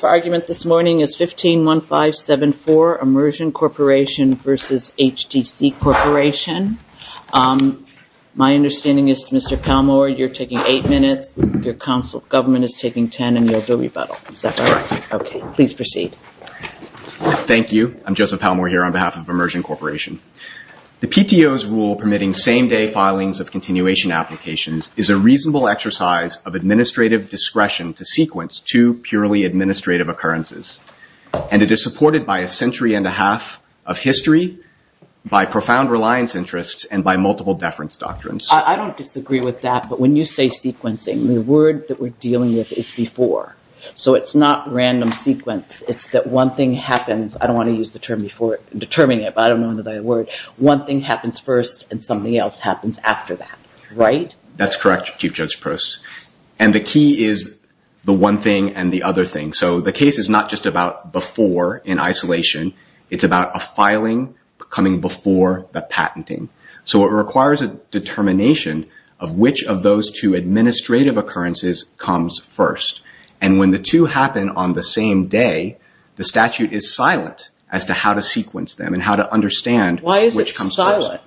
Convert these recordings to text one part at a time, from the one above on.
The argument this morning is 151574, Immersion Corporation v. HTC Corporation. My understanding is Mr. Palmore, you're taking eight minutes, your government is taking ten, and you'll do a rebuttal. Is that right? Okay. Please proceed. Thank you. I'm Joseph Palmore here on behalf of Immersion Corporation. The PTO's rule permitting same-day filings of continuation applications is a reasonable exercise of administrative discretion to sequence two purely administrative occurrences. And it is supported by a century and a half of history, by profound reliance interests, and by multiple deference doctrines. I don't disagree with that, but when you say sequencing, the word that we're dealing with is before. So it's not random sequence. It's that one thing happens. I don't want to use the term before determining it, but I don't know the word. One thing happens first and something else happens after that, right? That's correct, Chief Judge Prost. And the key is the one thing and the other thing. So the case is not just about before in isolation. It's about a filing coming before the patenting. So it requires a determination of which of those two administrative occurrences comes first. And when the two happen on the same day, the statute is silent as to how to sequence them and how to understand which comes first. Why is it silent?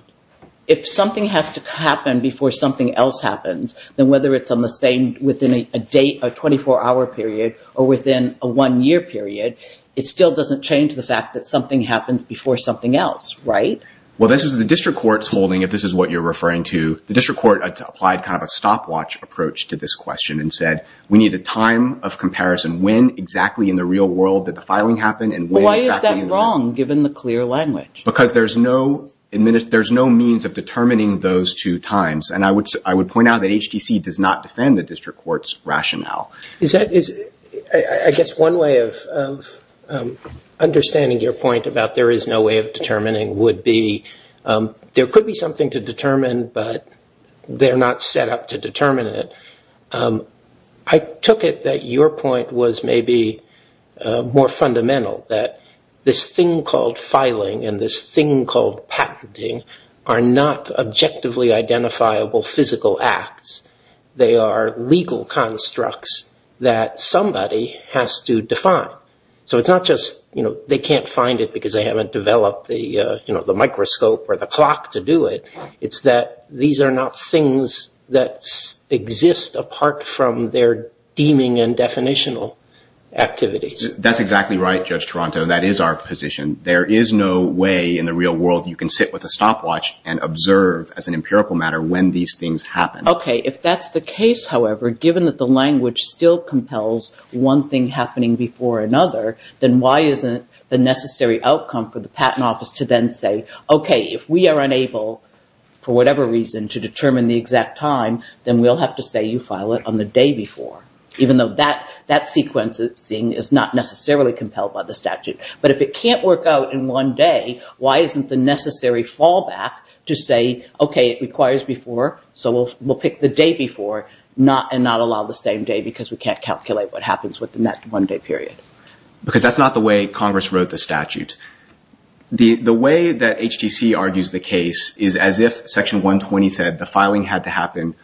If something has to happen before something else happens, then whether it's on the same within a 24-hour period or within a one-year period, it still doesn't change the fact that something happens before something else, right? Well, this was the district court's holding, if this is what you're referring to. The district court applied kind of a stopwatch approach to this question and said, we need a time of comparison. When exactly in the real world did the filing happen and when exactly in the... Why is that wrong, given the clear language? Because there's no means of determining those two times. And I would point out that HTC does not defend the district court's rationale. Is that... I guess one way of understanding your point about there is no way of determining would be there could be something to determine, but they're not set up to determine it. I took it that your point was maybe more fundamental, that this thing called filing and this thing called patenting are not objectively identifiable physical acts. They are legal constructs that somebody has to define. So it's not just they can't find it because they haven't developed the microscope or the clock to do it. It's that these are not things that exist apart from their deeming and definitional activities. That's exactly right, Judge Toronto. That is our position. There is no way in the real world you can sit with a stopwatch and observe as an empirical matter when these things happen. Okay. If that's the case, however, given that the language still compels one thing happening before another, then why isn't the necessary outcome for the patent office to then say, okay, if we are unable for whatever reason to determine the exact time, then we'll have to say you file it on the day before, even though that sequencing is not necessarily compelled by the statute. But if it can't work out in one day, why isn't the necessary fallback to say, okay, it requires before, so we'll pick the day before and not allow the same day because we can't calculate what happens within that one day period? Because that's not the way Congress wrote the statute. The way that HTC argues the case is as if Section 120 said the filing had to happen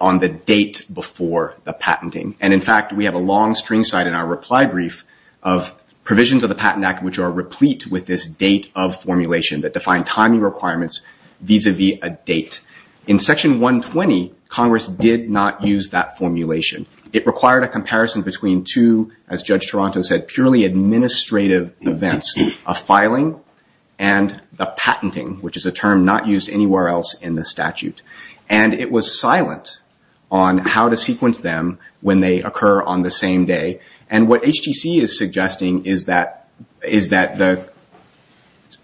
on the date before the patenting. In fact, we have a long string side in our reply brief of provisions of the Patent Act which are replete with this date of formulation that define timing requirements vis-a-vis a date. In Section 120, Congress did not use that formulation. It required a comparison between two, as Judge Toronto said, purely administrative events, a filing and the patenting, which is a term not used anywhere else in the statute. And it was silent on how to sequence them when they occur on the same day. And what HTC is suggesting is that the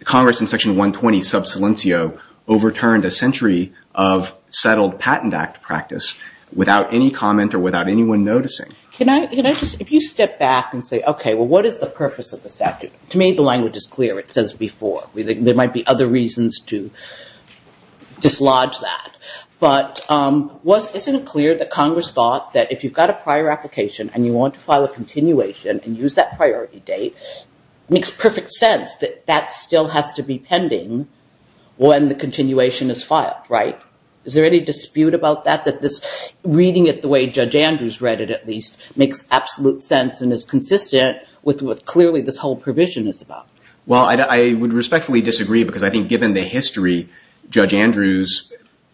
Congress in Section 120, sub salientio, overturned a century of settled Patent Act practice without any comment or without anyone noticing. Can I just, if you step back and say, okay, well what is the purpose of the statute? To your language is clear. It says before. There might be other reasons to dislodge that. But isn't it clear that Congress thought that if you've got a prior application and you want to file a continuation and use that priority date, it makes perfect sense that that still has to be pending when the continuation is filed, right? Is there any dispute about that, that this reading it the way Judge Andrews read it at least makes absolute sense and is consistent with what clearly this whole provision is about? Well, I would respectfully disagree because I think given the history, Judge Andrews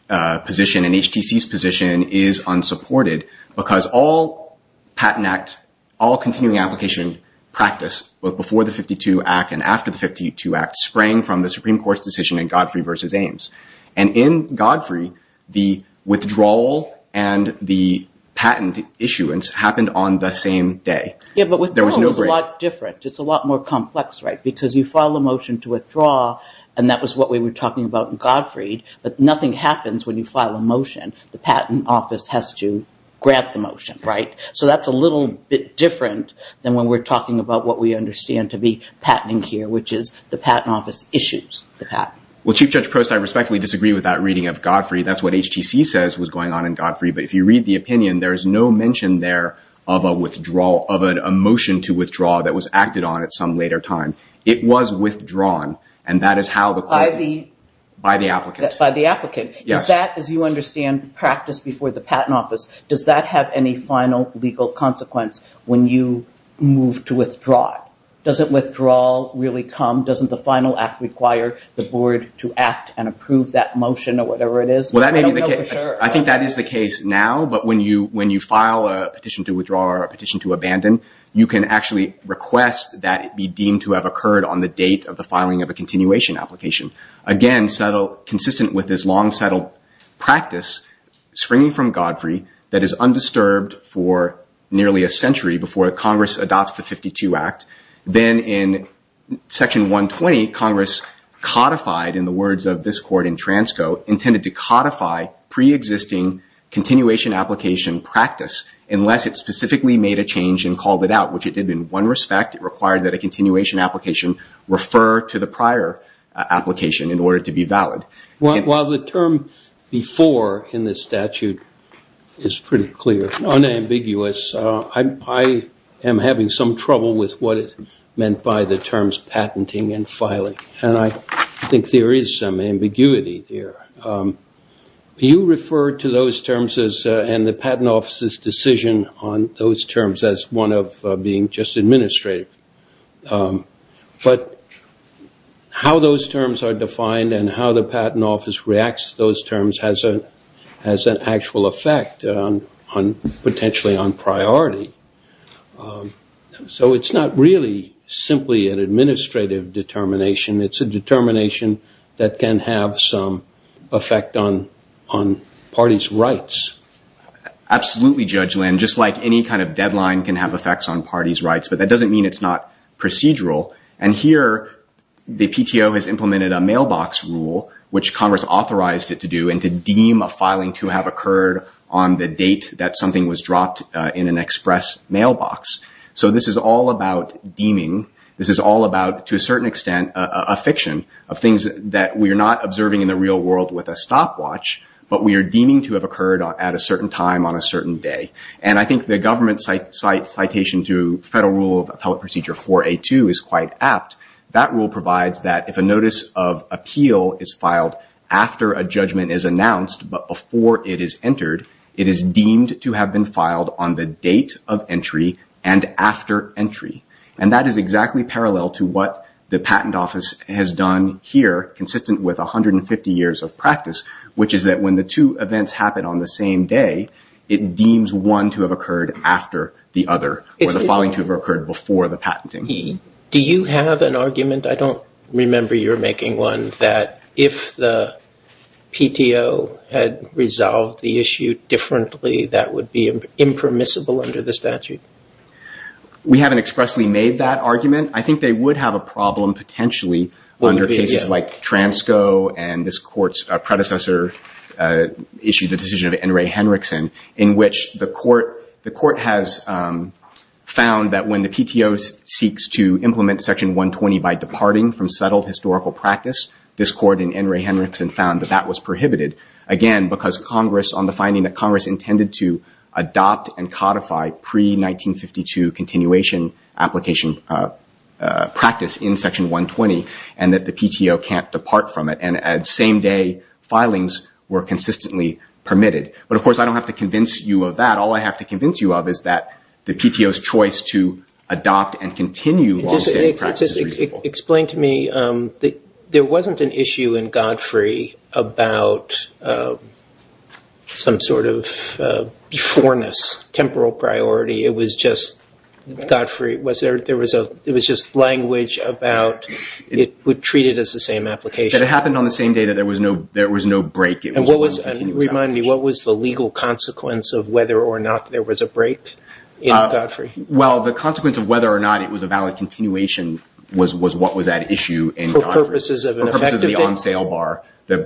position and HTC's position is unsupported because all Patent Act, all continuing application practice, both before the 52 Act and after the 52 Act, sprang from the Supreme Court's decision in Godfrey v. Ames. And in Godfrey, the withdrawal and the patent issuance happened on the same day. Yeah, but withdrawal is a lot different. It's a lot more complex, right? Because you file a motion to withdraw and that was what we were talking about in Godfrey, but nothing happens when you file a motion. The Patent Office has to grant the motion, right? So that's a little bit different than when we're talking about what we understand to be patenting here, which is the Patent Office issues the patent. Well, Chief Judge Prost, I respectfully disagree with that reading of Godfrey. That's what of a motion to withdraw that was acted on at some later time. It was withdrawn and that is how the court... By the... By the applicant. By the applicant. Yes. Is that, as you understand, practiced before the Patent Office, does that have any final legal consequence when you move to withdraw? Does it withdraw really come? Doesn't the final act require the board to act and approve that motion or whatever it is? Well, that may be the case. I don't know for sure. I don't know for sure if it's now, but when you file a petition to withdraw or a petition to abandon, you can actually request that it be deemed to have occurred on the date of the filing of a continuation application. Again, consistent with this long-settled practice springing from Godfrey that is undisturbed for nearly a century before Congress adopts the 52 Act. Then in Section 120, Congress codified, in the words of this court in Transco, intended to codify pre-existing continuation application practice unless it specifically made a change and called it out, which it did in one respect. It required that a continuation application refer to the prior application in order to be valid. While the term before in this statute is pretty clear, unambiguous, I am having some trouble with what is meant by the terms patenting and filing. I think there is some ambiguity here. You referred to those terms and the Patent Office's decision on those terms as one of being just administrative, but how those terms are defined and how the Patent Office reacts to those terms has an actual effect potentially on priority. It's not really simply an administrative determination. It's a determination that can have some effect on parties' rights. Absolutely, Judge Lynn. Just like any kind of deadline can have effects on parties' rights, but that doesn't mean it's not procedural. Here, the PTO has implemented a mailbox rule, which Congress authorized it to do, and to deem a filing to have occurred on the date that something was dropped in an express mailbox. This is all about deeming. This is all about, to a certain extent, a fiction of things that we are not observing in the real world with a stopwatch, but we are deeming to have occurred at a certain time on a certain day. I think the government citation to Federal Rule of Appellate Procedure 4A2 is quite apt. That rule provides that if a notice of appeal is filed after a judgment is announced but before it is entered, it is deemed to have been filed on the date of entry and after entry. That is exactly parallel to what the Patent Office has done here, consistent with 150 years of practice, which is that when the two events happen on the same day, it deems one to have occurred after the other, or the filing to have occurred before the patenting. Do you have an argument? I don't remember you making one, that if the PTO had resolved the issue differently, that would be impermissible under the statute? We haven't expressly made that argument. I think they would have a problem potentially under cases like Transco and this Court's predecessor issue, the decision of N. Ray Henriksen, in which the Court has found that when the PTO seeks to implement Section 120 by departing from settled historical practice, this Court and N. Ray Henriksen found that that was prohibited. Again, because Congress, on the finding that Congress intended to adopt and codify pre-1952 continuation application practice in Section 120, and that the PTO can't depart from it, and at the same day, filings were consistently permitted. Of course, I don't have to convince you of that. All I have to convince you of is that the PTO's choice to adopt and continue long-standing practice is reasonable. Explain to me, there wasn't an issue in Godfrey about some sort of beforeness to the temporal priority. It was just language about it would treat it as the same application. It happened on the same day that there was no break. Remind me, what was the legal consequence of whether or not there was a break in Godfrey? Well, the consequence of whether or not it was a valid continuation was what was at issue in Godfrey. For purposes of the on-sale bar, the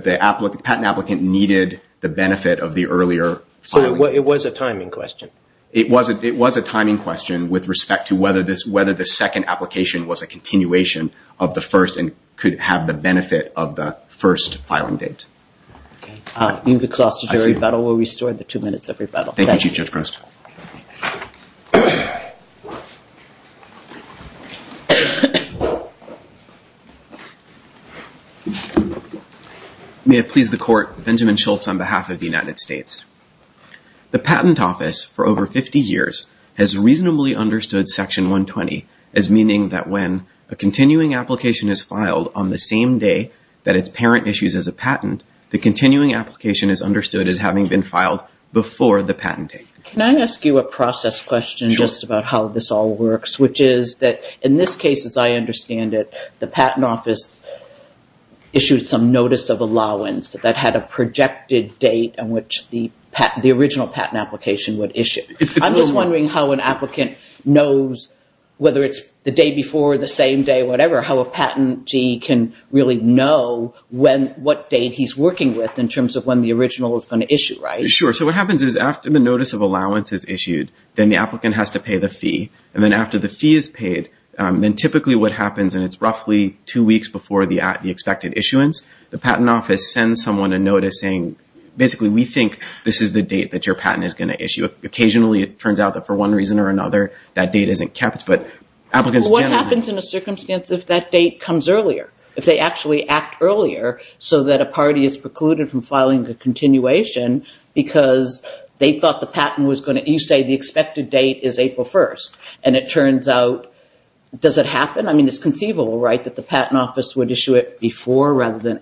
patent applicant needed the benefit of the earlier filing. It was a timing question. It was a timing question with respect to whether the second application was a continuation of the first and could have the benefit of the first filing date. Okay. You've exhausted your rebuttal. We'll restore the two minutes of rebuttal. Thank you, Chief Judge Prost. May it please the Court, Benjamin Schultz on behalf of the United States. The Patent Office, for over 50 years, has reasonably understood Section 120 as meaning that when a continuing application is filed on the same day that its parent issues as a patent, the continuing application is understood as having been filed before the patent date. Can I ask you a process question just about how this all works, which is that in this case, as I understand it, the Patent Office issued some notice of allowance that had a projected date on which the original patent application would issue. I'm just wondering how an applicant knows, whether it's the day before, the same day, whatever, how a patentee can really know what date he's working with in terms of when the original is going to issue, right? Sure. So what happens is after the notice of allowance is issued, then the applicant has to pay the fee, and then after the fee is paid, then typically what happens, and it's roughly two weeks before the expected issuance, the Patent Office sends someone a notice saying, basically, we think this is the date that your patent is going to issue. Occasionally, it turns out that for one reason or another, that date isn't kept, but applicants generally... What happens in a circumstance if that date comes earlier, if they actually act earlier so that a party is precluded from filing a continuation because they thought the patent was going to... You say the expected date is April 1st, and it turns out... Does it happen? I mean, it's conceivable, right, that the Patent Office would issue it before rather than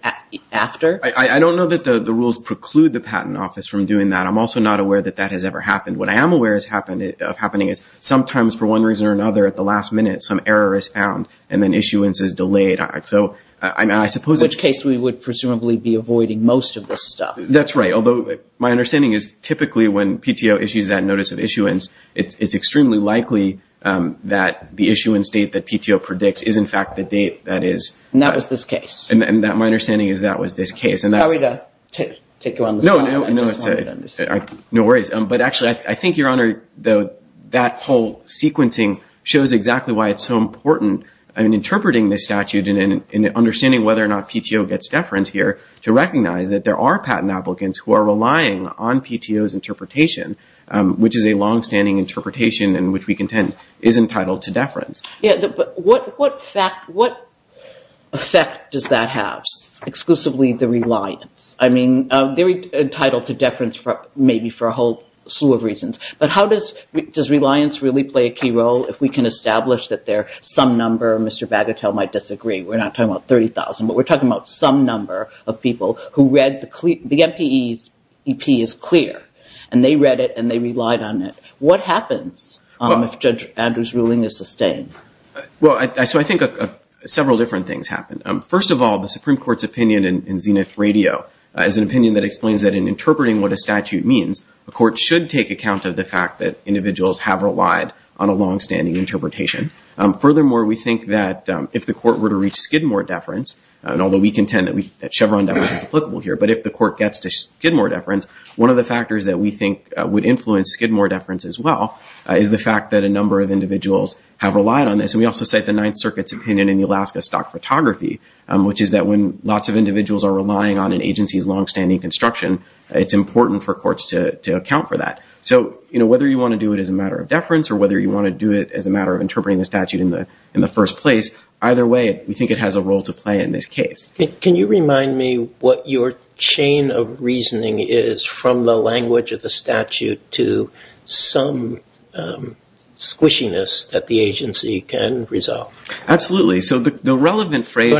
after? I don't know that the rules preclude the Patent Office from doing that. I'm also not aware that that has ever happened. What I am aware of happening is sometimes, for one reason or another, at the last minute, some error is found, and then issuance is delayed. So I suppose... In which case, we would presumably be avoiding most of this stuff. That's right. Although, my understanding is, typically, when PTO issues that notice of issuance, it's extremely likely that the issuance date that PTO predicts is, in fact, the date that is... And that was this case. And my understanding is that was this case, and that's... Sorry to take you on the spot. I just wanted to understand. No worries. But actually, I think, Your Honor, that whole sequencing shows exactly why it's so important in interpreting this statute and understanding whether or not PTO gets deference here to recognize that there are patent applicants who are relying on PTO's interpretation, which is a long-standing interpretation in which we contend is entitled to deference. Yeah. But what effect does that have, exclusively the reliance? I mean, they're entitled to deference maybe for a whole slew of reasons. But how does reliance really play a key role if we can establish that there are some number of Mr. Bagatelle might disagree? We're not talking about 30,000, but we're talking about some number of people who read the MPEP is clear. And they read it, and they relied on it. What happens if Judge Andrew's ruling is sustained? Well, so I think several different things happen. First of all, the Supreme Court's opinion in Zenith Radio is an opinion that explains that in interpreting what a statute means, a court should take account of the fact that individuals have relied on a long-standing interpretation. Furthermore, we think that if the court were to reach Skidmore deference, and although we contend that Chevron deference is applicable here, but if the court gets to Skidmore deference, one of the factors that we think would influence Skidmore deference as well is the fact that a number of individuals have relied on this. And we also cite the Ninth Circuit's opinion in the Alaska Stock Photography, which is that when lots of individuals are relying on an agency's long-standing construction, it's important for courts to account for that. So, you know, whether you want to do it as a matter of deference or whether you want to do it as a matter of interpreting the statute in the first place, either way, we think it has a role to play in this case. Can you remind me what your chain of reasoning is from the language of the statute to some squishiness that the agency can resolve? Absolutely. So the relevant phrase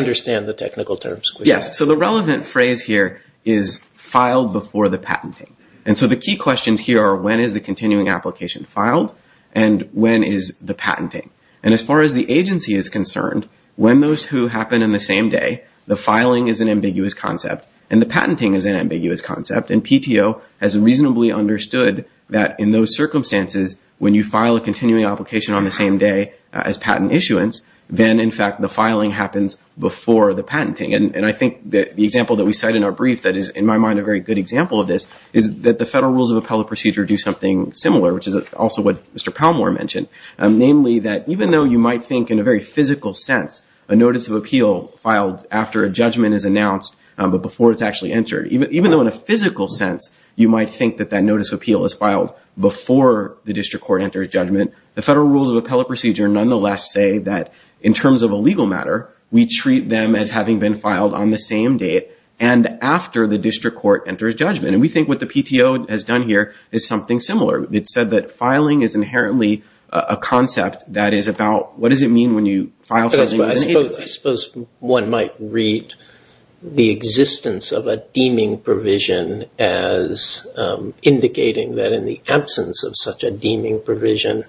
here is filed before the patenting. And so the key questions here are when is the continuing application filed and when is the patenting. And as far as the agency is concerned, when those two happen in the same day, the filing is an ambiguous concept and the patenting is an ambiguous concept. And PTO has reasonably understood that in those circumstances, when you file a continuing application on the same day as patent issuance, then, in fact, the filing happens before the patenting. And I think the example that we cite in our brief that is, in my mind, a very good example of this is that the Federal Rules of Appellate Procedure do something similar, which is also what Mr. Palmore mentioned, namely that even though you might think in a very physical sense a notice of appeal filed after a judgment is announced, but before it's actually entered, even though in a physical sense you might think that that notice of appeal is filed before the district court enters judgment, the Federal Rules of Appellate Procedure nonetheless say that in terms of a legal matter, we treat them as having been filed on the same date and after the district court enters judgment. And we think what the PTO has done here is something similar. It said that filing is inherently a concept that is about what does it mean when you file something in the agency? I suppose one might read the existence of a deeming provision as indicating that in the absence of such a deeming provision,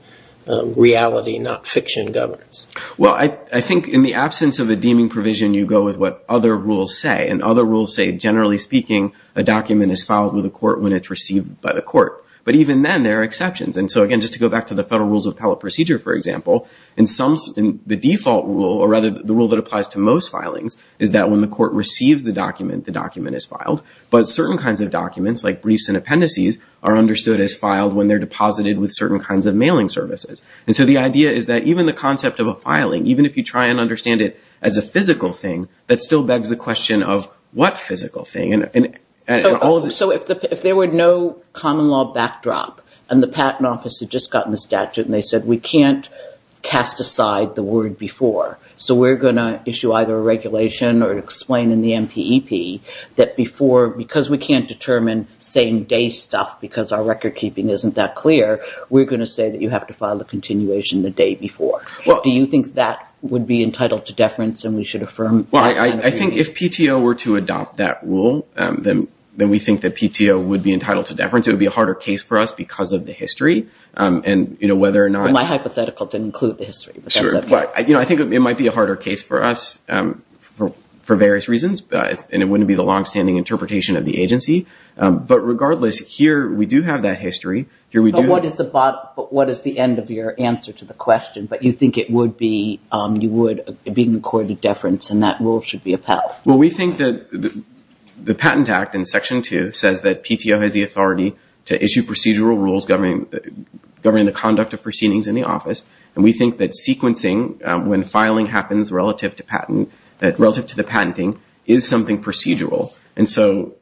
reality, not fiction, governs. Well, I think in the absence of a deeming provision, you go with what other rules say. And other rules say, generally speaking, a document is filed with a court when it's received by the court. But even then, there are exceptions. And so, again, just to go back to the Federal Rules of Appellate Procedure, for example, the default rule, or rather the rule that applies to most filings, is that when the court receives the document, the document is filed. But certain kinds of documents, like briefs and appendices, are understood as filed when they're deposited with certain kinds of mailing services. And so the idea is that even the concept of a filing, even if you try and understand it as a physical thing, that still begs the question of what physical thing? So if there were no common law backdrop, and the Patent Office had just gotten the statute and they said, we can't cast aside the word before, so we're going to issue either a regulation or explain in the NPEP that before, because we can't determine same-day stuff because our recordkeeping isn't that clear, we're going to say that you have to file a continuation the day before. Do you think that would be entitled to deference and we should affirm that kind of rule? Well, I think if PTO were to adopt that rule, then we think that PTO would be entitled to deference. It would be a harder case for us because of the history. And whether or not – My hypothetical didn't include the history. I think it might be a harder case for us for various reasons, and it wouldn't be the long-standing interpretation of the agency. But regardless, here we do have that history. But what is the end of your answer to the question? But you think it would be – you would – being accorded deference and that rule should be upheld. Well, we think that the Patent Act in Section 2 says that PTO has the authority to issue procedural rules governing the conduct of proceedings in the office. And we think that sequencing, when filing happens relative to the patenting, is something procedural. And so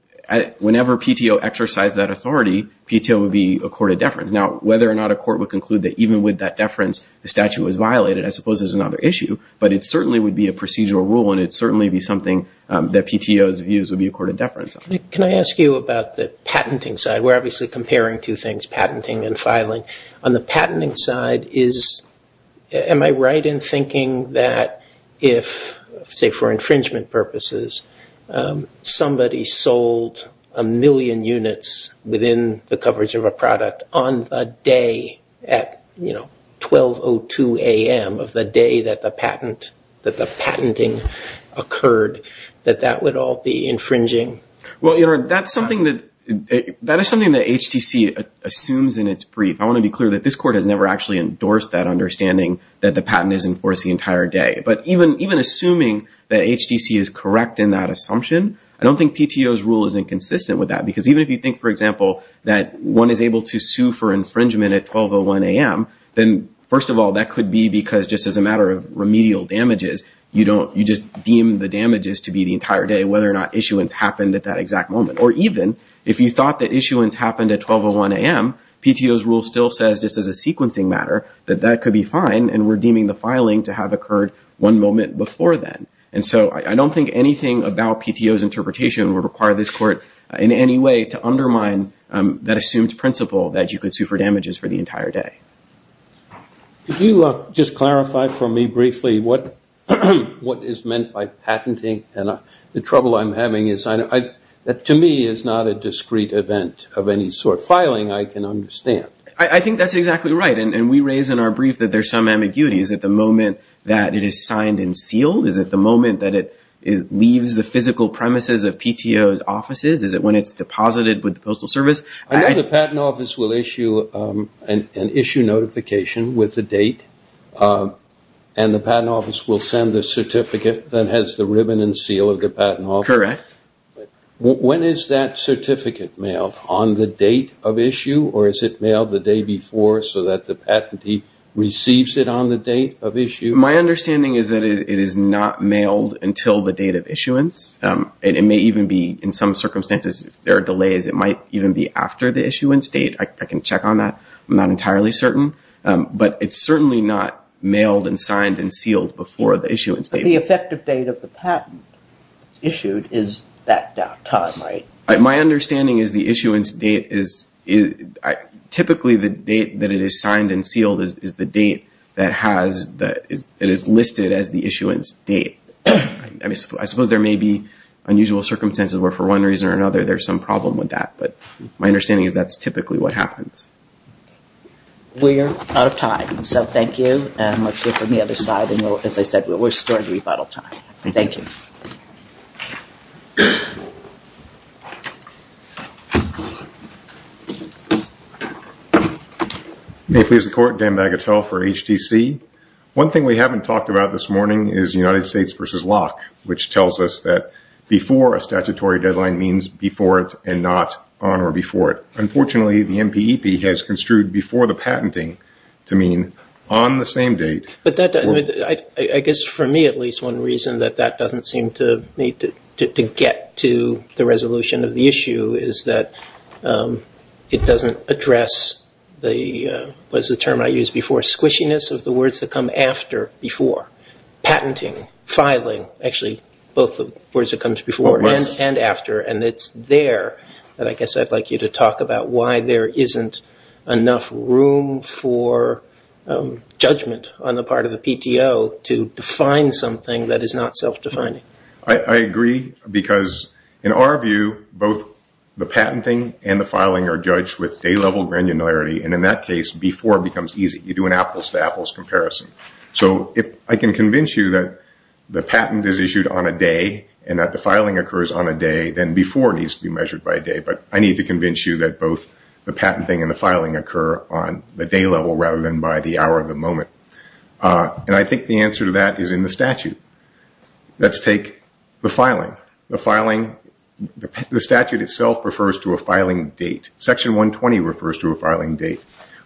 whenever PTO exercised that authority, PTO would be accorded deference. Now, whether or not a court would conclude that even with that deference, the statute was violated, I suppose there's another issue. But it certainly would be a procedural rule and it certainly would be something that PTO's views would be accorded deference on. Can I ask you about the patenting side? We're obviously comparing two things, patenting and filing. On the patenting side, is – am I right in thinking that if, say, for infringement purposes, somebody sold a million units within the coverage of a product on the day at, you know, 12.02 a.m. of the day that the patent – that the patenting occurred, that that would all be infringing? Well, you know, that's something that – that is something that HTC assumes in its brief. I want to be clear that this court has never actually endorsed that understanding that the patent is enforced the entire day. But even – even assuming that HTC is correct in that assumption, I don't think PTO's rule is inconsistent with that. Because even if you think, for example, that one is able to sue for infringement at 12.01 a.m., then, first of all, that could be because just as a matter of remedial damages, you don't – you just deem the damages to be the entire day, whether or not issuance happened at that exact moment. Or even if you thought that issuance happened at 12.01 a.m., PTO's rule still says, just as a sequencing matter, that that could be fine, and we're deeming the filing to have occurred one moment before then. And so I don't think anything about PTO's interpretation would require this court in any way to undermine that assumed principle that you could sue for damages for the entire day. Could you just clarify for me briefly what is meant by patenting? And the trouble I'm having is I – that, to me, is not a discrete event of any sort. Filing, I can understand. I think that's exactly right. And we raise in our brief that there's some ambiguity. Is it the moment that it is signed and sealed? Is it the moment that it leaves the physical premises of PTO's offices? Is it when it's deposited with the Postal Service? I know the Patent Office will issue an issue notification with the date, and the Patent Office will send the certificate that has the ribbon and seal of the Patent Office. Correct. When is that certificate mailed? On the date of issue? Or is it mailed the day before so that the patentee receives it on the date of issue? My understanding is that it is not mailed until the date of issuance. It may even be, in some circumstances, if there are delays, it might even be after the issuance date. I can check on that. I'm not entirely certain. But it's certainly not mailed and signed and sealed before the issuance date. But the effective date of the patent issued is that time, right? My understanding is the issuance date is – typically, the date that it is signed and sealed is the date that has – that is listed as the issuance date. I suppose there may be one reason or another there's some problem with that. But my understanding is that's typically what happens. We're out of time. So thank you. And let's hear from the other side. And as I said, we're starting to be out of time. Thank you. May it please the Court. Dan Bagatelle for HTC. One thing we haven't talked about this means before it and not on or before it. Unfortunately, the MPEP has construed before the patenting to mean on the same date. But that – I guess for me, at least, one reason that that doesn't seem to need to get to the resolution of the issue is that it doesn't address the – what is the term I used before? Squishiness of the words that come after before. Patenting, filing – actually, both the words that comes before and after. And it's there that I guess I'd like you to talk about why there isn't enough room for judgment on the part of the PTO to define something that is not self-defining. I agree because in our view, both the patenting and the filing are judged with day-level granularity. And in that case, before becomes easy. You do an apples-to-apples comparison. So if I can convince you that the patent is issued on a day and that the filing occurs on a day, then before needs to be measured by day. But I need to convince you that both the patenting and the filing occur on the day-level rather than by the hour of the moment. And I think the answer to that is in the statute. Let's take the filing. The filing – the statute itself refers to a filing date. Section 120 refers to a filing date.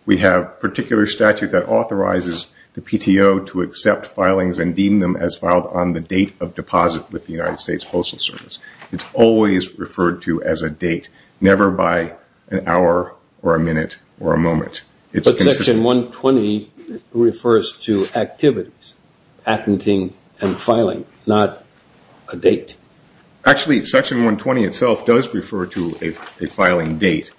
We have particular statute that authorizes the PTO to accept filings and deem them as filed on the date of deposit with the United States Postal Service. It's always referred to as a date, never by an hour or a minute or a moment. But Section 120 refers to activities, patenting and filing, not a date. Actually, Section 120 itself does refer to a filing date.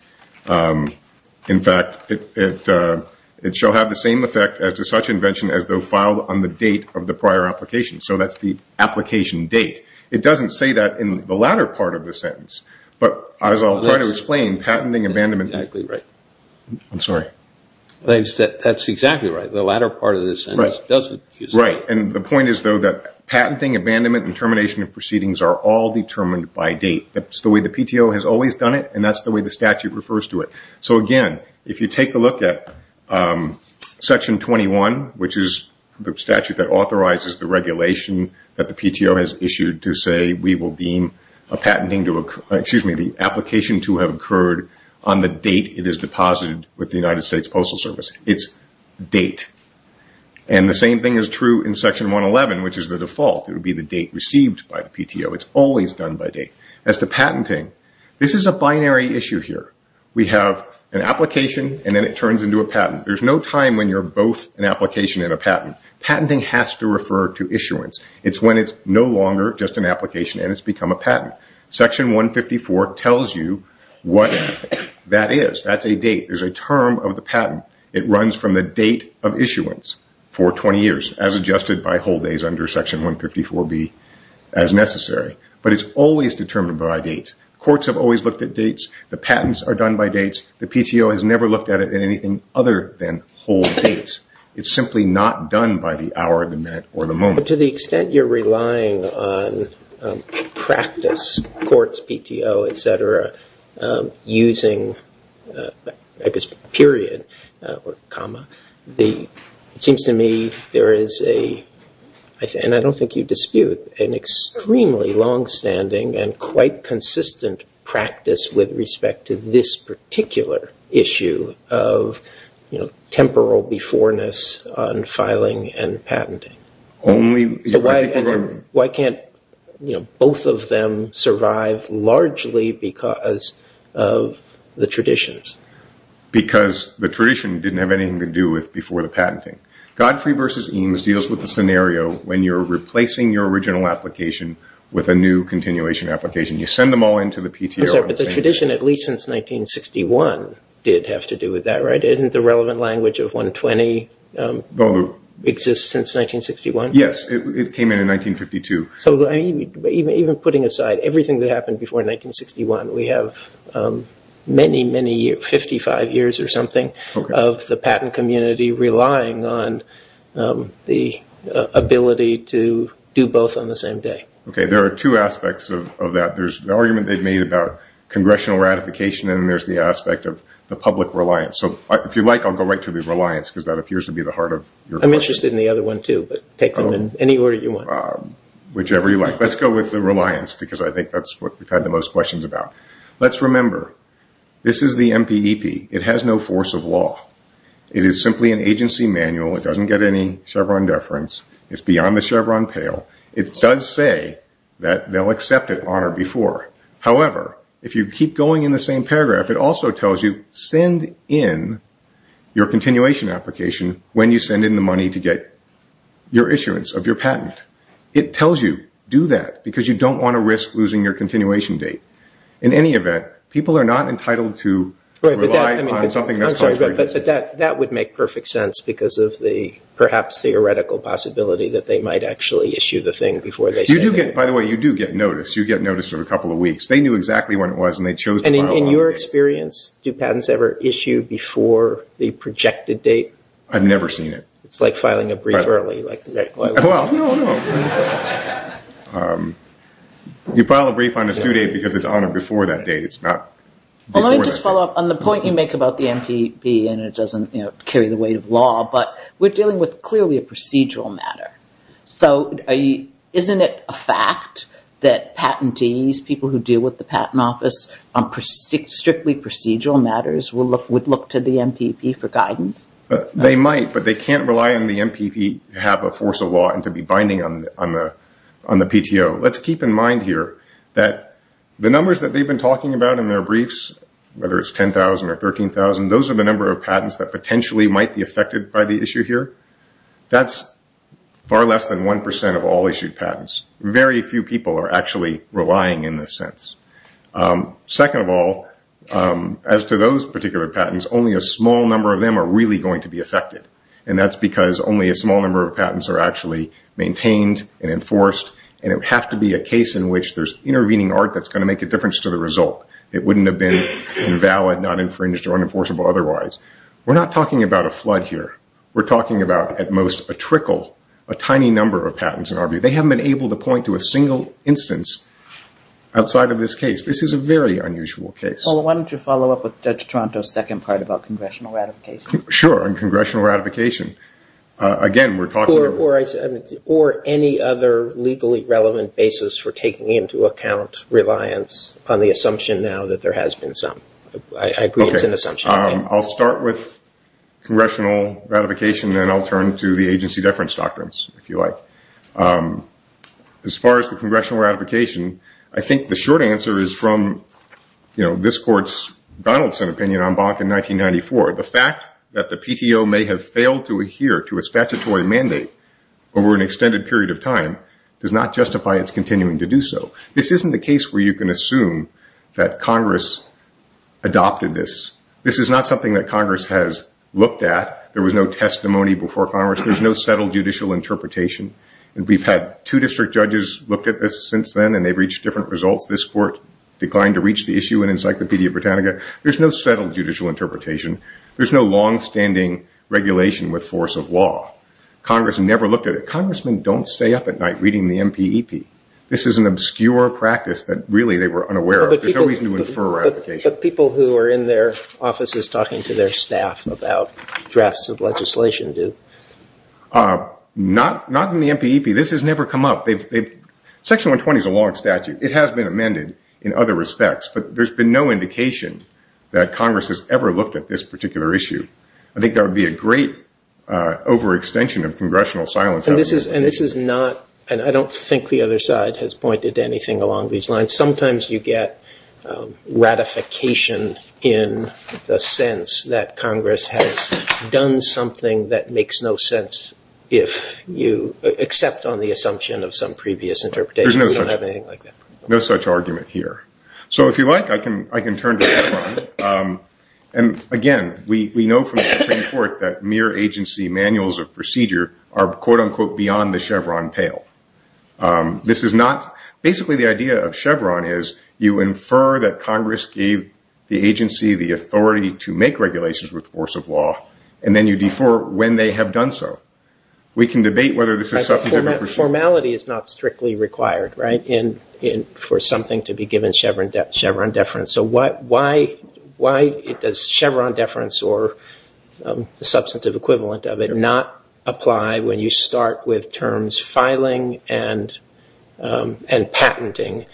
In fact, it shall have the same effect as to such invention as though filed on the date of the prior application. So that's the application date. It doesn't say that in the latter part of the sentence. But as I'll try to explain, patenting, abandonment… That's exactly right. I'm sorry. That's exactly right. The latter part of the sentence doesn't use that. The point is though that patenting, abandonment and termination of proceedings are all determined by date. That's the way the PTO has always done it and that's the way the statute refers to it. So again, if you take a look at Section 21, which is the statute that authorizes the regulation that the PTO has issued to say we will deem the application to have occurred on the date it is deposited with the United States Postal Service. It's date. And the same thing is true in Section 111, which is the default. It would be the date received by the PTO. It's always done by date. As to patenting, this is a binary issue here. We have an application and then it turns into a patent. There's no time when you're both an application and a patent. Patenting has to refer to issuance. It's when it's no longer just an application and it's become a patent. Section 154 tells you what that is. That's a date. There's a term of the patent. It runs from the date of issuance for 20 years as adjusted by hold days under Section 154B as necessary. But it's always determined by date. Courts have always looked at dates. The patents are done by dates. The PTO has never looked at it in anything other than hold dates. It's simply not done by the hour, the minute, or the moment. To the extent you're relying on practice, courts, PTO, etc., using period or comma, it seems to me there is a, and I don't think you dispute, an extremely longstanding and quite consistent practice with respect to this particular issue of temporal beforeness on filing and patenting. So why can't both of them survive largely because of the traditions? Because the tradition didn't have anything to do with before the patenting. Godfrey v. Eames deals with the scenario when you're replacing your original application with a new continuation application. You send them all into the PTO. But the tradition, at least since 1961, did have to do with that, right? Isn't the relevant language of 120 that exists since 1961? Yes, it came in 1952. So even putting aside everything that happened before 1961, we have many, many years, 55 years or something, of the patent community relying on the ability to do both on the same day. Okay, there are two aspects of that. There's the argument they've made about congressional ratification, and there's the aspect of the public reliance. If you like, I'll go right to the reliance because that appears to be the heart of your question. I'm interested in the other one too, but take them in any order you want. Whichever you like. Let's go with the reliance because I think that's what we've had the most questions about. Let's remember, this is the MPEP. It has no force of law. It is simply an agency manual. It doesn't get any Chevron deference. It's beyond the Chevron pale. It does say that they'll accept it on or before. However, if you keep going in the same paragraph, it also tells you, send in your continuation application when you send in the money to get your issuance of your patent. It tells you, do that, because you don't want to risk losing your continuation date. In any event, people are not entitled to rely on something that's classified. I'm sorry, but that would make perfect sense because of the perhaps theoretical possibility that they might actually issue the thing before they send it. By the way, you do get notice. You get notice of a couple of weeks. They knew exactly when it was and they chose to file on it. In your experience, do patents ever issue before the projected date? I've never seen it. It's like filing a brief early. You file a brief on a due date because it's on or before that date. It's not before that date. Let me just follow up on the point you make about the MPEP and it doesn't carry the weight of law, but we're dealing with clearly a procedural matter. Isn't it a fact that patentees, people who deal with the patent office, strictly procedural matters would look to the MPEP for guidance? They might, but they can't rely on the MPEP to have a force of law and to be binding on the PTO. Let's keep in mind here that the numbers that they've been talking about in their briefs, whether it's 10,000 or 13,000, those are the number of patents that potentially might be far less than 1% of all issued patents. Very few people are actually relying in this sense. Second of all, as to those particular patents, only a small number of them are really going to be affected. That's because only a small number of patents are actually maintained and enforced. It would have to be a case in which there's intervening art that's going to make a difference to the result. It wouldn't have been invalid, not infringed, or unenforceable otherwise. We're not talking about a flood here. We're talking about, at most, a trickle, a tiny number of patents in our view. They haven't been able to point to a single instance outside of this case. This is a very unusual case. Why don't you follow up with Judge Toronto's second part about congressional ratification? Sure, and congressional ratification. Again, we're talking- Or any other legally relevant basis for taking into account reliance on the assumption now that there has been some. I agree it's an assumption. I'll start with congressional ratification, then I'll turn to the agency deference doctrines, if you like. As far as the congressional ratification, I think the short answer is from this court's Donaldson opinion on Bonk in 1994. The fact that the PTO may have failed to adhere to a statutory mandate over an extended period of time does not justify its continuing to do so. This isn't a case where you can assume that Congress adopted this. This is not something that Congress has looked at. There was no testimony before Congress. There's no settled judicial interpretation. We've had two district judges look at this since then, and they've reached different results. This court declined to reach the issue in Encyclopedia Britannica. There's no settled judicial interpretation. There's no longstanding regulation with force of law. Congress never looked at it. Congressmen don't stay up at night reading the MPEP. This is an obscure practice that really they were unaware of. There's no reason to infer ratification. People who are in their offices talking to their staff about drafts of legislation do. Not in the MPEP. This has never come up. Section 120 is a long statute. It has been amended in other respects, but there's been no indication that Congress has ever looked at this particular issue. I think there would be a great overextension of congressional silence. This is not, and I don't think the other side has pointed to anything along these lines. Sometimes you get ratification in the sense that Congress has done something that makes no sense except on the assumption of some previous interpretation. We don't have anything like that. There's no such argument here. If you like, I can turn to that one. Again, we know from beyond the Chevron pale. Basically, the idea of Chevron is you infer that Congress gave the agency the authority to make regulations with force of law, and then you defer when they have done so. We can debate whether this is substantive. Formality is not strictly required for something to be given Chevron deference. Why does Chevron deference or the substantive equivalent of it not apply when you start with terms filing and patenting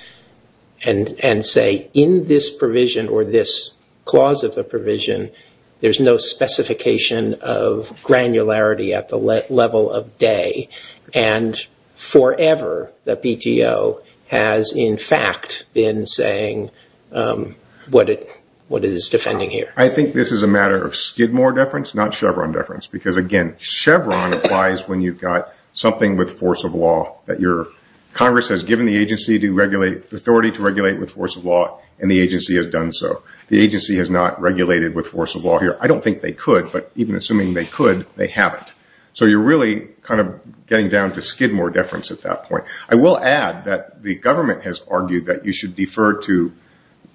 and say, in this provision or this clause of the provision, there's no specification of granularity at the level of day? Forever, the PTO has in fact been saying what it is defending here. This is a matter of Skidmore deference, not Chevron deference. Chevron applies when you've got something with force of law that Congress has given the agency the authority to regulate with force of law, and the agency has done so. The agency has not regulated with force of law here. I don't think they could, but even assuming they could, they haven't. You're really getting down to Skidmore deference at that point. I will add that the government has argued that you should defer to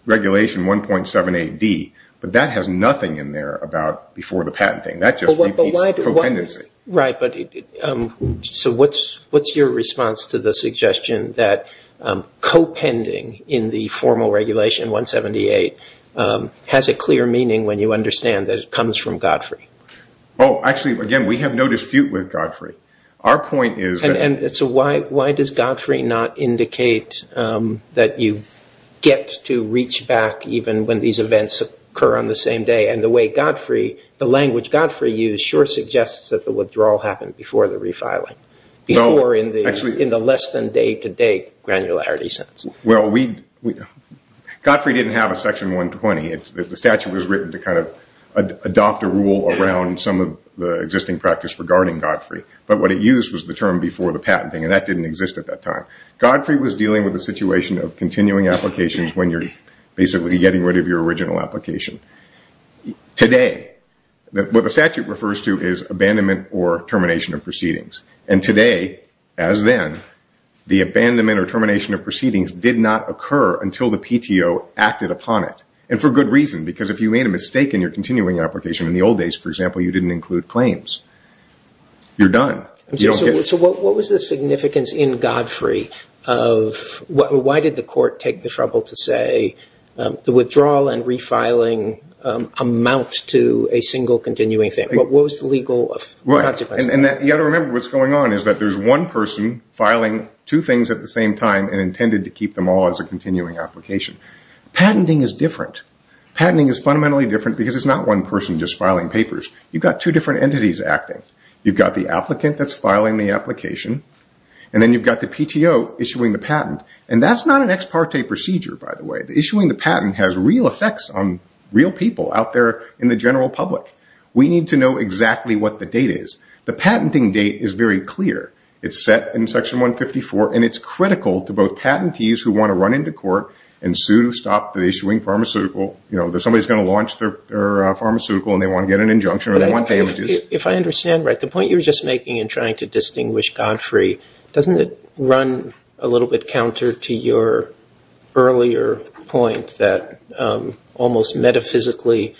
regulation 1.7 AD, but that has nothing in there about before the patenting. That just repeats co-pendency. What's your response to the suggestion that co-pending in the formal regulation 178 has a clear meaning when you understand that it comes from Godfrey? Again, we have no dispute with Godfrey. Our point is that- And so why does Godfrey not indicate that you get to reach back even when these events occur on the same day, and the language Godfrey used sure suggests that the withdrawal happened before the refiling, before in the less than day-to-day granularity sense. Well, Godfrey didn't have a section 120. The statute was written to adopt a rule around some of the existing practice regarding Godfrey, but what it used was the term before the patenting, and that didn't exist at that time. Godfrey was dealing with a situation of continuing applications when you're basically getting rid of your original application. Today, what the statute refers to is abandonment or termination of proceedings. Today, as then, the abandonment or termination of proceedings did not occur until the PTO acted upon it, and for good reason, because if you made a mistake in your continuing application in the old days, for example, you didn't include claims, you're done. So what was the significance in Godfrey of- Why did the court take the trouble to say the withdrawal and refiling amount to a single continuing thing? What was the legal of- Right, and you got to remember what's going on is that there's one person filing two things at the same time and intended to keep them all as a continuing application. Patenting is different. Patenting is fundamentally different because it's not one person just filing papers. You've got two different entities acting. You've got the applicant that's filing the application, and then you've got the PTO issuing the patent, and that's not an ex parte procedure, by the way. Issuing the patent has real effects on real people out there in the general public. We need to know exactly what the date is. The patenting date is very clear. It's set in section 154, and it's critical to both patentees who want to run into court and sue to stop the issuing pharmaceutical, that somebody's going to launch their pharmaceutical, and they want to get an injunction, or they want damages. If I understand right, the point you're just making in trying to distinguish Godfrey, doesn't it run a little bit counter to your earlier point that almost metaphysically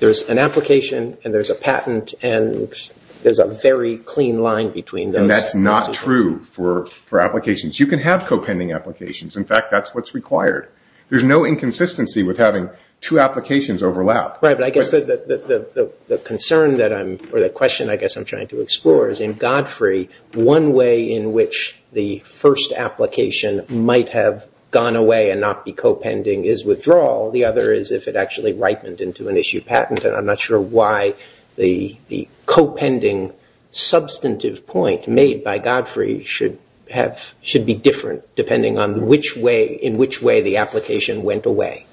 there's an application, and there's a patent, and there's a very clean line between those- And that's not true for applications. You can have co-pending applications. In fact, that's what's required. There's no inconsistency with having two applications overlap. Right, but I guess the concern that I'm, or the question I guess I'm trying to explore, is in Godfrey, one way in which the first application might have gone away and not be co-pending is withdrawal. The other is if it actually ripened into an issue patent, and I'm not sure why the co-pending substantive point made by Godfrey should be different, depending on in which way the application went away.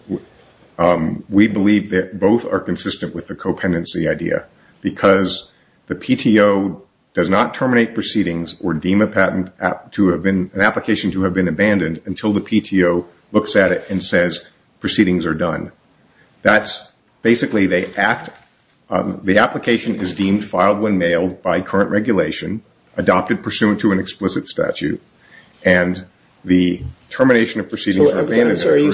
We believe that both are consistent with the co-pendency idea, because the PTO does not terminate proceedings or deem an application to have been abandoned until the PTO looks at it and says proceedings are done. Basically, the application is deemed filed when mailed by current regulation, adopted pursuant to an explicit statute, and the termination of proceedings or abandonment- Are you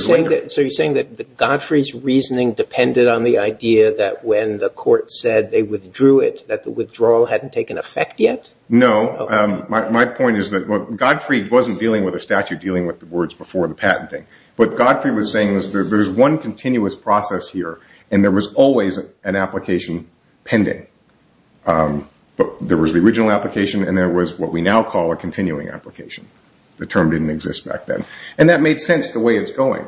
saying that Godfrey's reasoning depended on the idea that when the court said they withdrew it, that the withdrawal hadn't taken effect yet? No. My point is that Godfrey wasn't dealing with a statute, dealing with the words before the patenting. What Godfrey was saying is there's one continuous process here, and there was always an application pending. There was the original application, and there was what we now call a continuing application. The term didn't exist back then. That made sense the way it's going.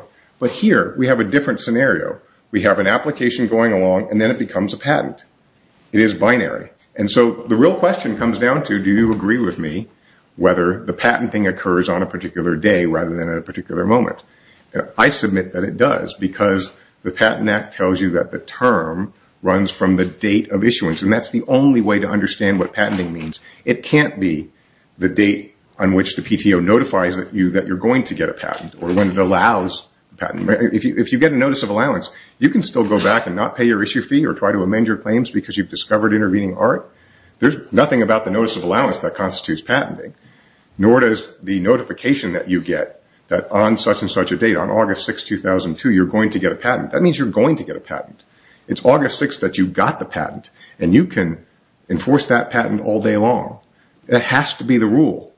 Here, we have a different scenario. We have an application going along, and then it becomes a patent. It is binary. The real question comes down to, do you agree with me whether the patenting occurs on a particular day rather than at a particular moment? I submit that it does, because the Patent Act tells you that the term runs from the date of issuance. That's the only way to understand what patenting means. It can't be the date on which the PTO notifies that you're going to get a patent or when it allows a patent. If you get a notice of allowance, you can still go back and not pay your issue fee or try to amend your claims because you've discovered intervening art. There's nothing about the notice of allowance that constitutes patenting, nor does the notification that you get that on such and such a date, on August 6, 2002, you're going to get a patent. That means you're going to get a patent. It's August 6 that you got the patent, and you can enforce that patent all day long. That has to be the rule.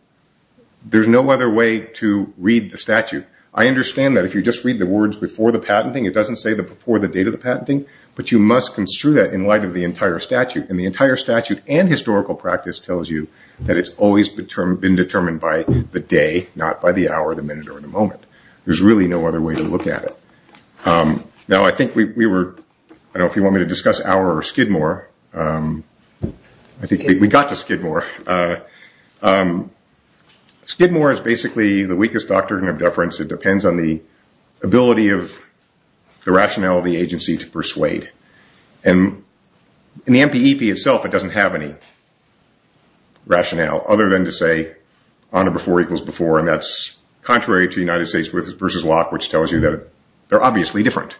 There's no other way to read the statute. I understand that if you just read the words before the patenting, it doesn't say before the date of the patenting, but you must construe that in light of the entire statute. The entire statute and historical practice tells you that it's always been determined by the day, not by the hour, the minute, or the moment. There's really no other way to look at it. Now, I think we were, I don't know if you want me to discuss Auer or Skidmore. I think we got to Skidmore. Skidmore is basically the weakest doctrine of deference. It depends on the ability of the rationale of the agency to persuade. In the NPEP itself, it doesn't have any rationale other than to say honor before equals before, and that's contrary to United States versus Locke, which tells you that they're obviously different.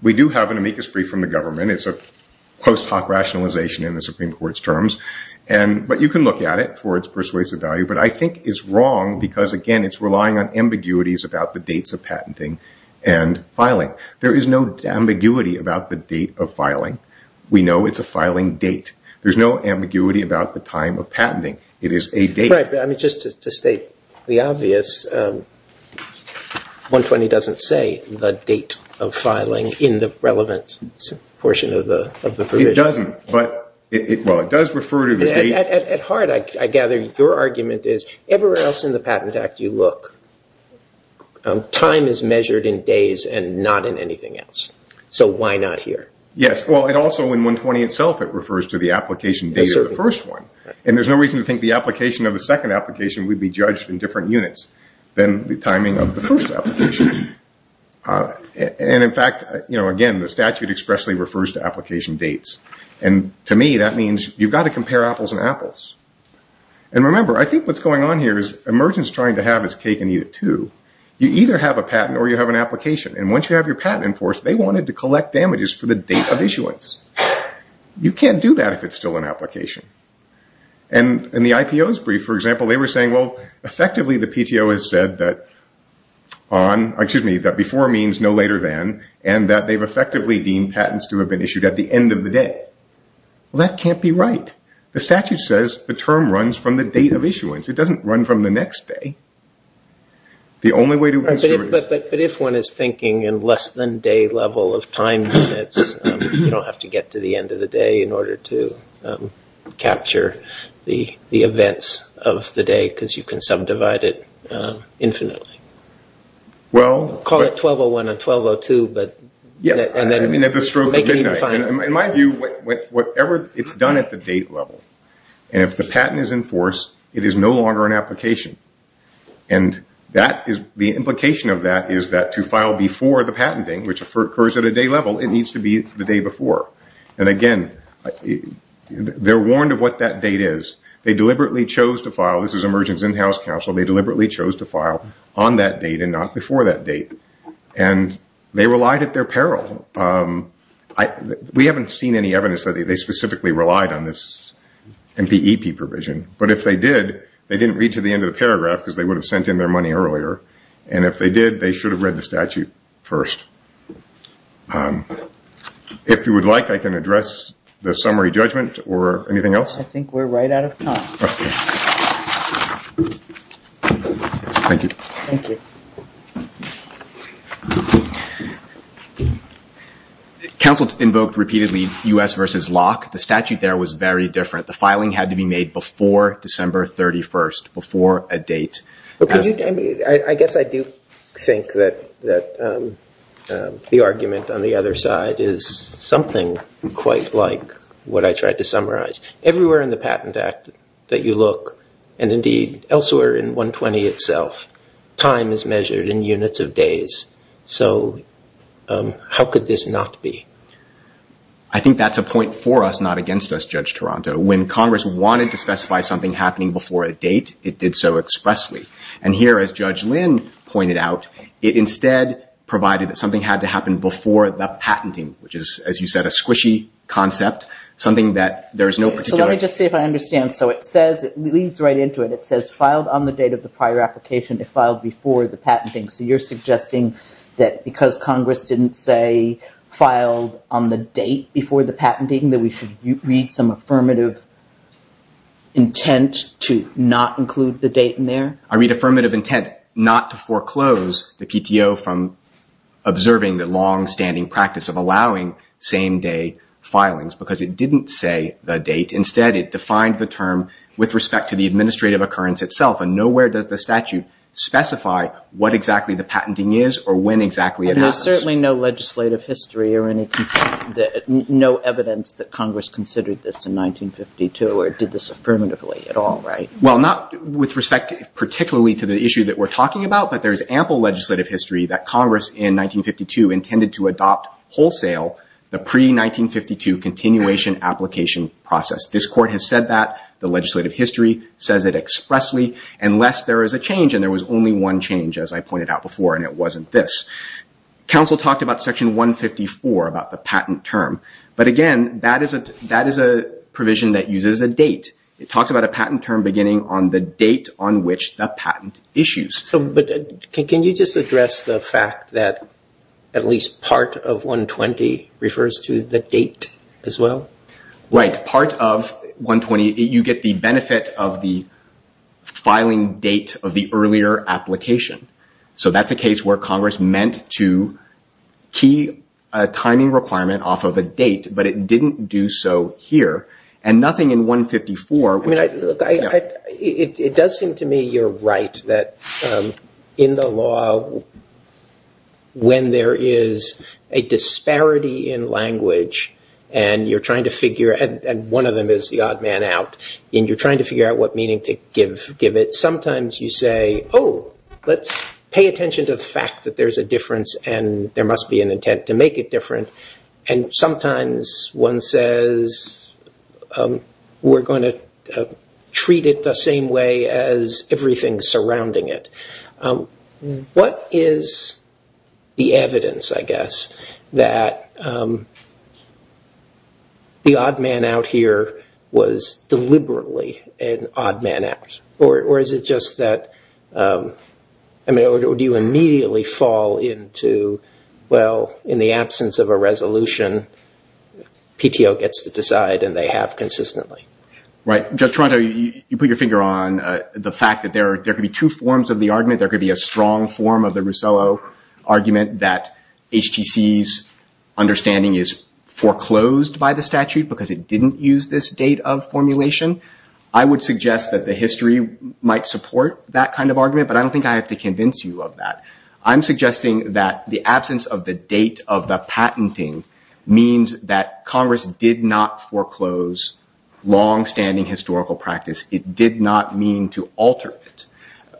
We do have an amicus free from the government. It's a post hoc rationalization in the Supreme Court's terms, but you can look at it for its persuasive value. I think it's wrong because, again, it's relying on ambiguities about the dates of patenting and filing. There is no ambiguity about the date of filing. We know it's a filing date. There's no ambiguity about the time of patenting. It is a date. Just to state the obvious, 120 doesn't say the date of filing in the relevant portion of the provision. It doesn't, but it does refer to the date. At heart, I gather your argument is, everywhere else in the Patent Act you look, time is measured in days and not in anything else, so why not here? Yes. It also, in 120 itself, it refers to the application date of the first one. There's no reason to think the application of the second application would be judged in different units than the timing of the first application. In fact, again, the statute expressly refers to application dates. To me, that means you've got to compare apples and apples. Remember, I think what's going on here is, a merchant's trying to have his cake and eat it, too. You either have a patent or you have an application. Once you have your patent in force, they wanted to collect damages for the date of issuance. You can't do that if it's still an application. In the IPO's brief, for example, they were saying, effectively, the PTO has said that before means no later than, and that they've effectively deemed patents to have been issued at the end of the day. Well, that can't be right. The statute says the term runs from the date of issuance. It doesn't run from the next day. The only way to... But if one is thinking in less than day level of time, you don't have to get to the end of the day in order to capture the events of the day, because you can subdivide it infinitely. Call it 1201 and 1202, but make it even finer. In my view, whatever it's done at the date level, and if the patent is in force, it is no longer an application. The implication of that is that to file before the patenting, which occurs at a day level, it needs to be the day before. Again, they're warned of what that date is. They deliberately chose to file... This is a merchant's in-house counsel. They deliberately chose to file on that date and not before that date. They relied at their peril. We haven't seen any evidence that they specifically relied on this MPEP provision, but if they did, they didn't read to the end of the paragraph, because they would have sent in their money earlier. If they did, they should have read the statute first. If you would like, I can address the summary judgment or anything else. I think we're right out of time. Thank you. Thank you. Thank you. The counsel invoked repeatedly US versus LOC. The statute there was very different. The filing had to be made before December 31st, before a date. I guess I do think that the argument on the other side is something quite like what I tried to summarize. Everywhere in the Patent Act that you look, and indeed elsewhere in 120 itself, time is measured in units of days. How could this not be? I think that's a point for us, not against us, Judge Toronto. When Congress wanted to specify something happening before a date, it did so expressly. Here, as Judge Lynn pointed out, it instead provided that something had to happen before the patenting, which is, as you said, a squishy concept, something that there's no particular... It leads right into it. It says, filed on the date of the prior application if filed before the patenting. You're suggesting that because Congress didn't say filed on the date before the patenting, that we should read some affirmative intent to not include the date in there? I read affirmative intent not to foreclose the PTO from observing the longstanding practice of with respect to the administrative occurrence itself. Nowhere does the statute specify what exactly the patenting is or when exactly it happens. There's certainly no legislative history or no evidence that Congress considered this in 1952 or did this affirmatively at all, right? Well, not with respect particularly to the issue that we're talking about, but there's ample legislative history that Congress in 1952 intended to adopt wholesale the pre-1952 continuation application process. This court has said that. The legislative history says it expressly unless there is a change, and there was only one change, as I pointed out before, and it wasn't this. Council talked about Section 154, about the patent term, but again, that is a provision that uses a date. It talks about a patent term beginning on the date on which the patent issues. Can you just address the fact that at least part of 120 refers to the date as well? Right. Part of 120, you get the benefit of the filing date of the earlier application. That's a case where Congress meant to key a timing requirement off of a date, but it didn't do so here and nothing in 154. It does seem to me you're right that in the law, when there is a disparity in language and you're trying to figure, and one of them is the odd man out, and you're trying to figure out what meaning to give it, sometimes you say, oh, let's pay attention to the fact that there's a difference and there must be an intent to make it different. Sometimes one says we're going to treat it the same way as everything surrounding it. What is the evidence, I guess, that the odd man out here was deliberately an odd man out? Or is it just that, I mean, or do you immediately fall into, well, in the absence of a resolution, PTO gets to decide and they have consistently? Right. Judge Toronto, you put your finger on the fact that there could be two forms of the argument. There could be a strong form of the Rousseau argument that HTC's understanding is foreclosed by the statute because it didn't use this date of formulation. I would suggest that the history might support that kind of argument, but I don't think I have to convince you of that. I'm suggesting that the absence of the date of the patenting means that Congress did not foreclose longstanding historical practice. It did not mean to alter it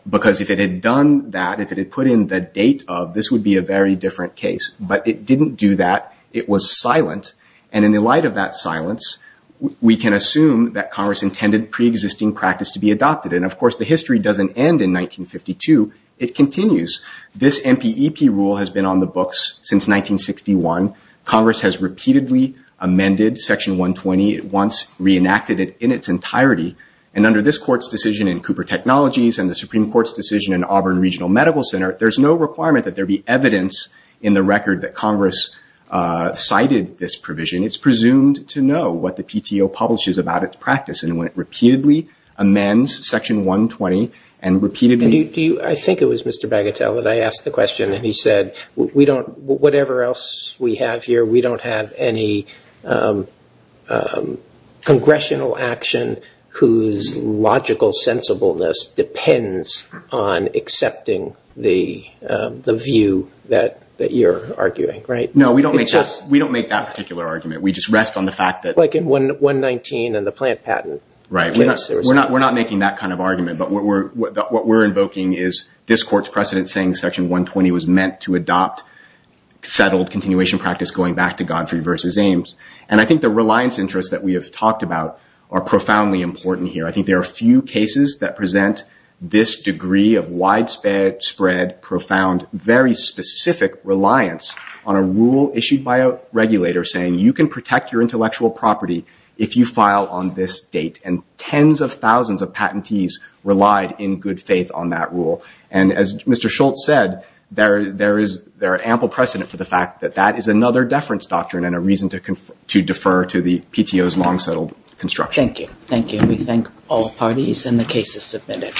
because if it had done that, if it had put in the date of, this would be a very different case, but it didn't do that. It was silent. In the light of that silence, we can assume that Congress intended preexisting practice to be adopted. Of course, the history doesn't end in 1952. It continues. This MPEP rule has been on the books since 1961. Congress has repeatedly amended Section 120. It once reenacted it in its entirety. And under this Court's decision in Cooper Technologies and the Supreme Court's decision in Auburn Regional Medical Center, there's no requirement that there be evidence in the record that Congress cited this provision. It's presumed to know what the PTO publishes about its practice and when it repeatedly amends Section 120 and repeatedly... I think it was Mr. Bagatelle that asked the question and he said, whatever else we have here, we don't have any congressional action whose logical sensibleness depends on accepting the view that you're arguing, right? No, we don't make that particular argument. We just rest on the fact that... Like in 119 and the plant patent. Right. We're not making that kind of argument, but what we're invoking is this Court's precedent saying Section 120 was meant to adopt settled continuation practice going back to Godfrey versus Ames. And I think the reliance interests that we have talked about are profoundly important here. I think there are few cases that present this degree of widespread, profound, very specific reliance on a rule issued by a regulator saying you can protect your intellectual property if you file on this date. And tens of thousands of patentees relied in good faith on that rule. And as Mr. Schultz said, there are ample precedent for the fact that that is another deference doctrine and a reason to defer to the PTO's long settled construction. Thank you. Thank you. We thank all parties and the cases submitted.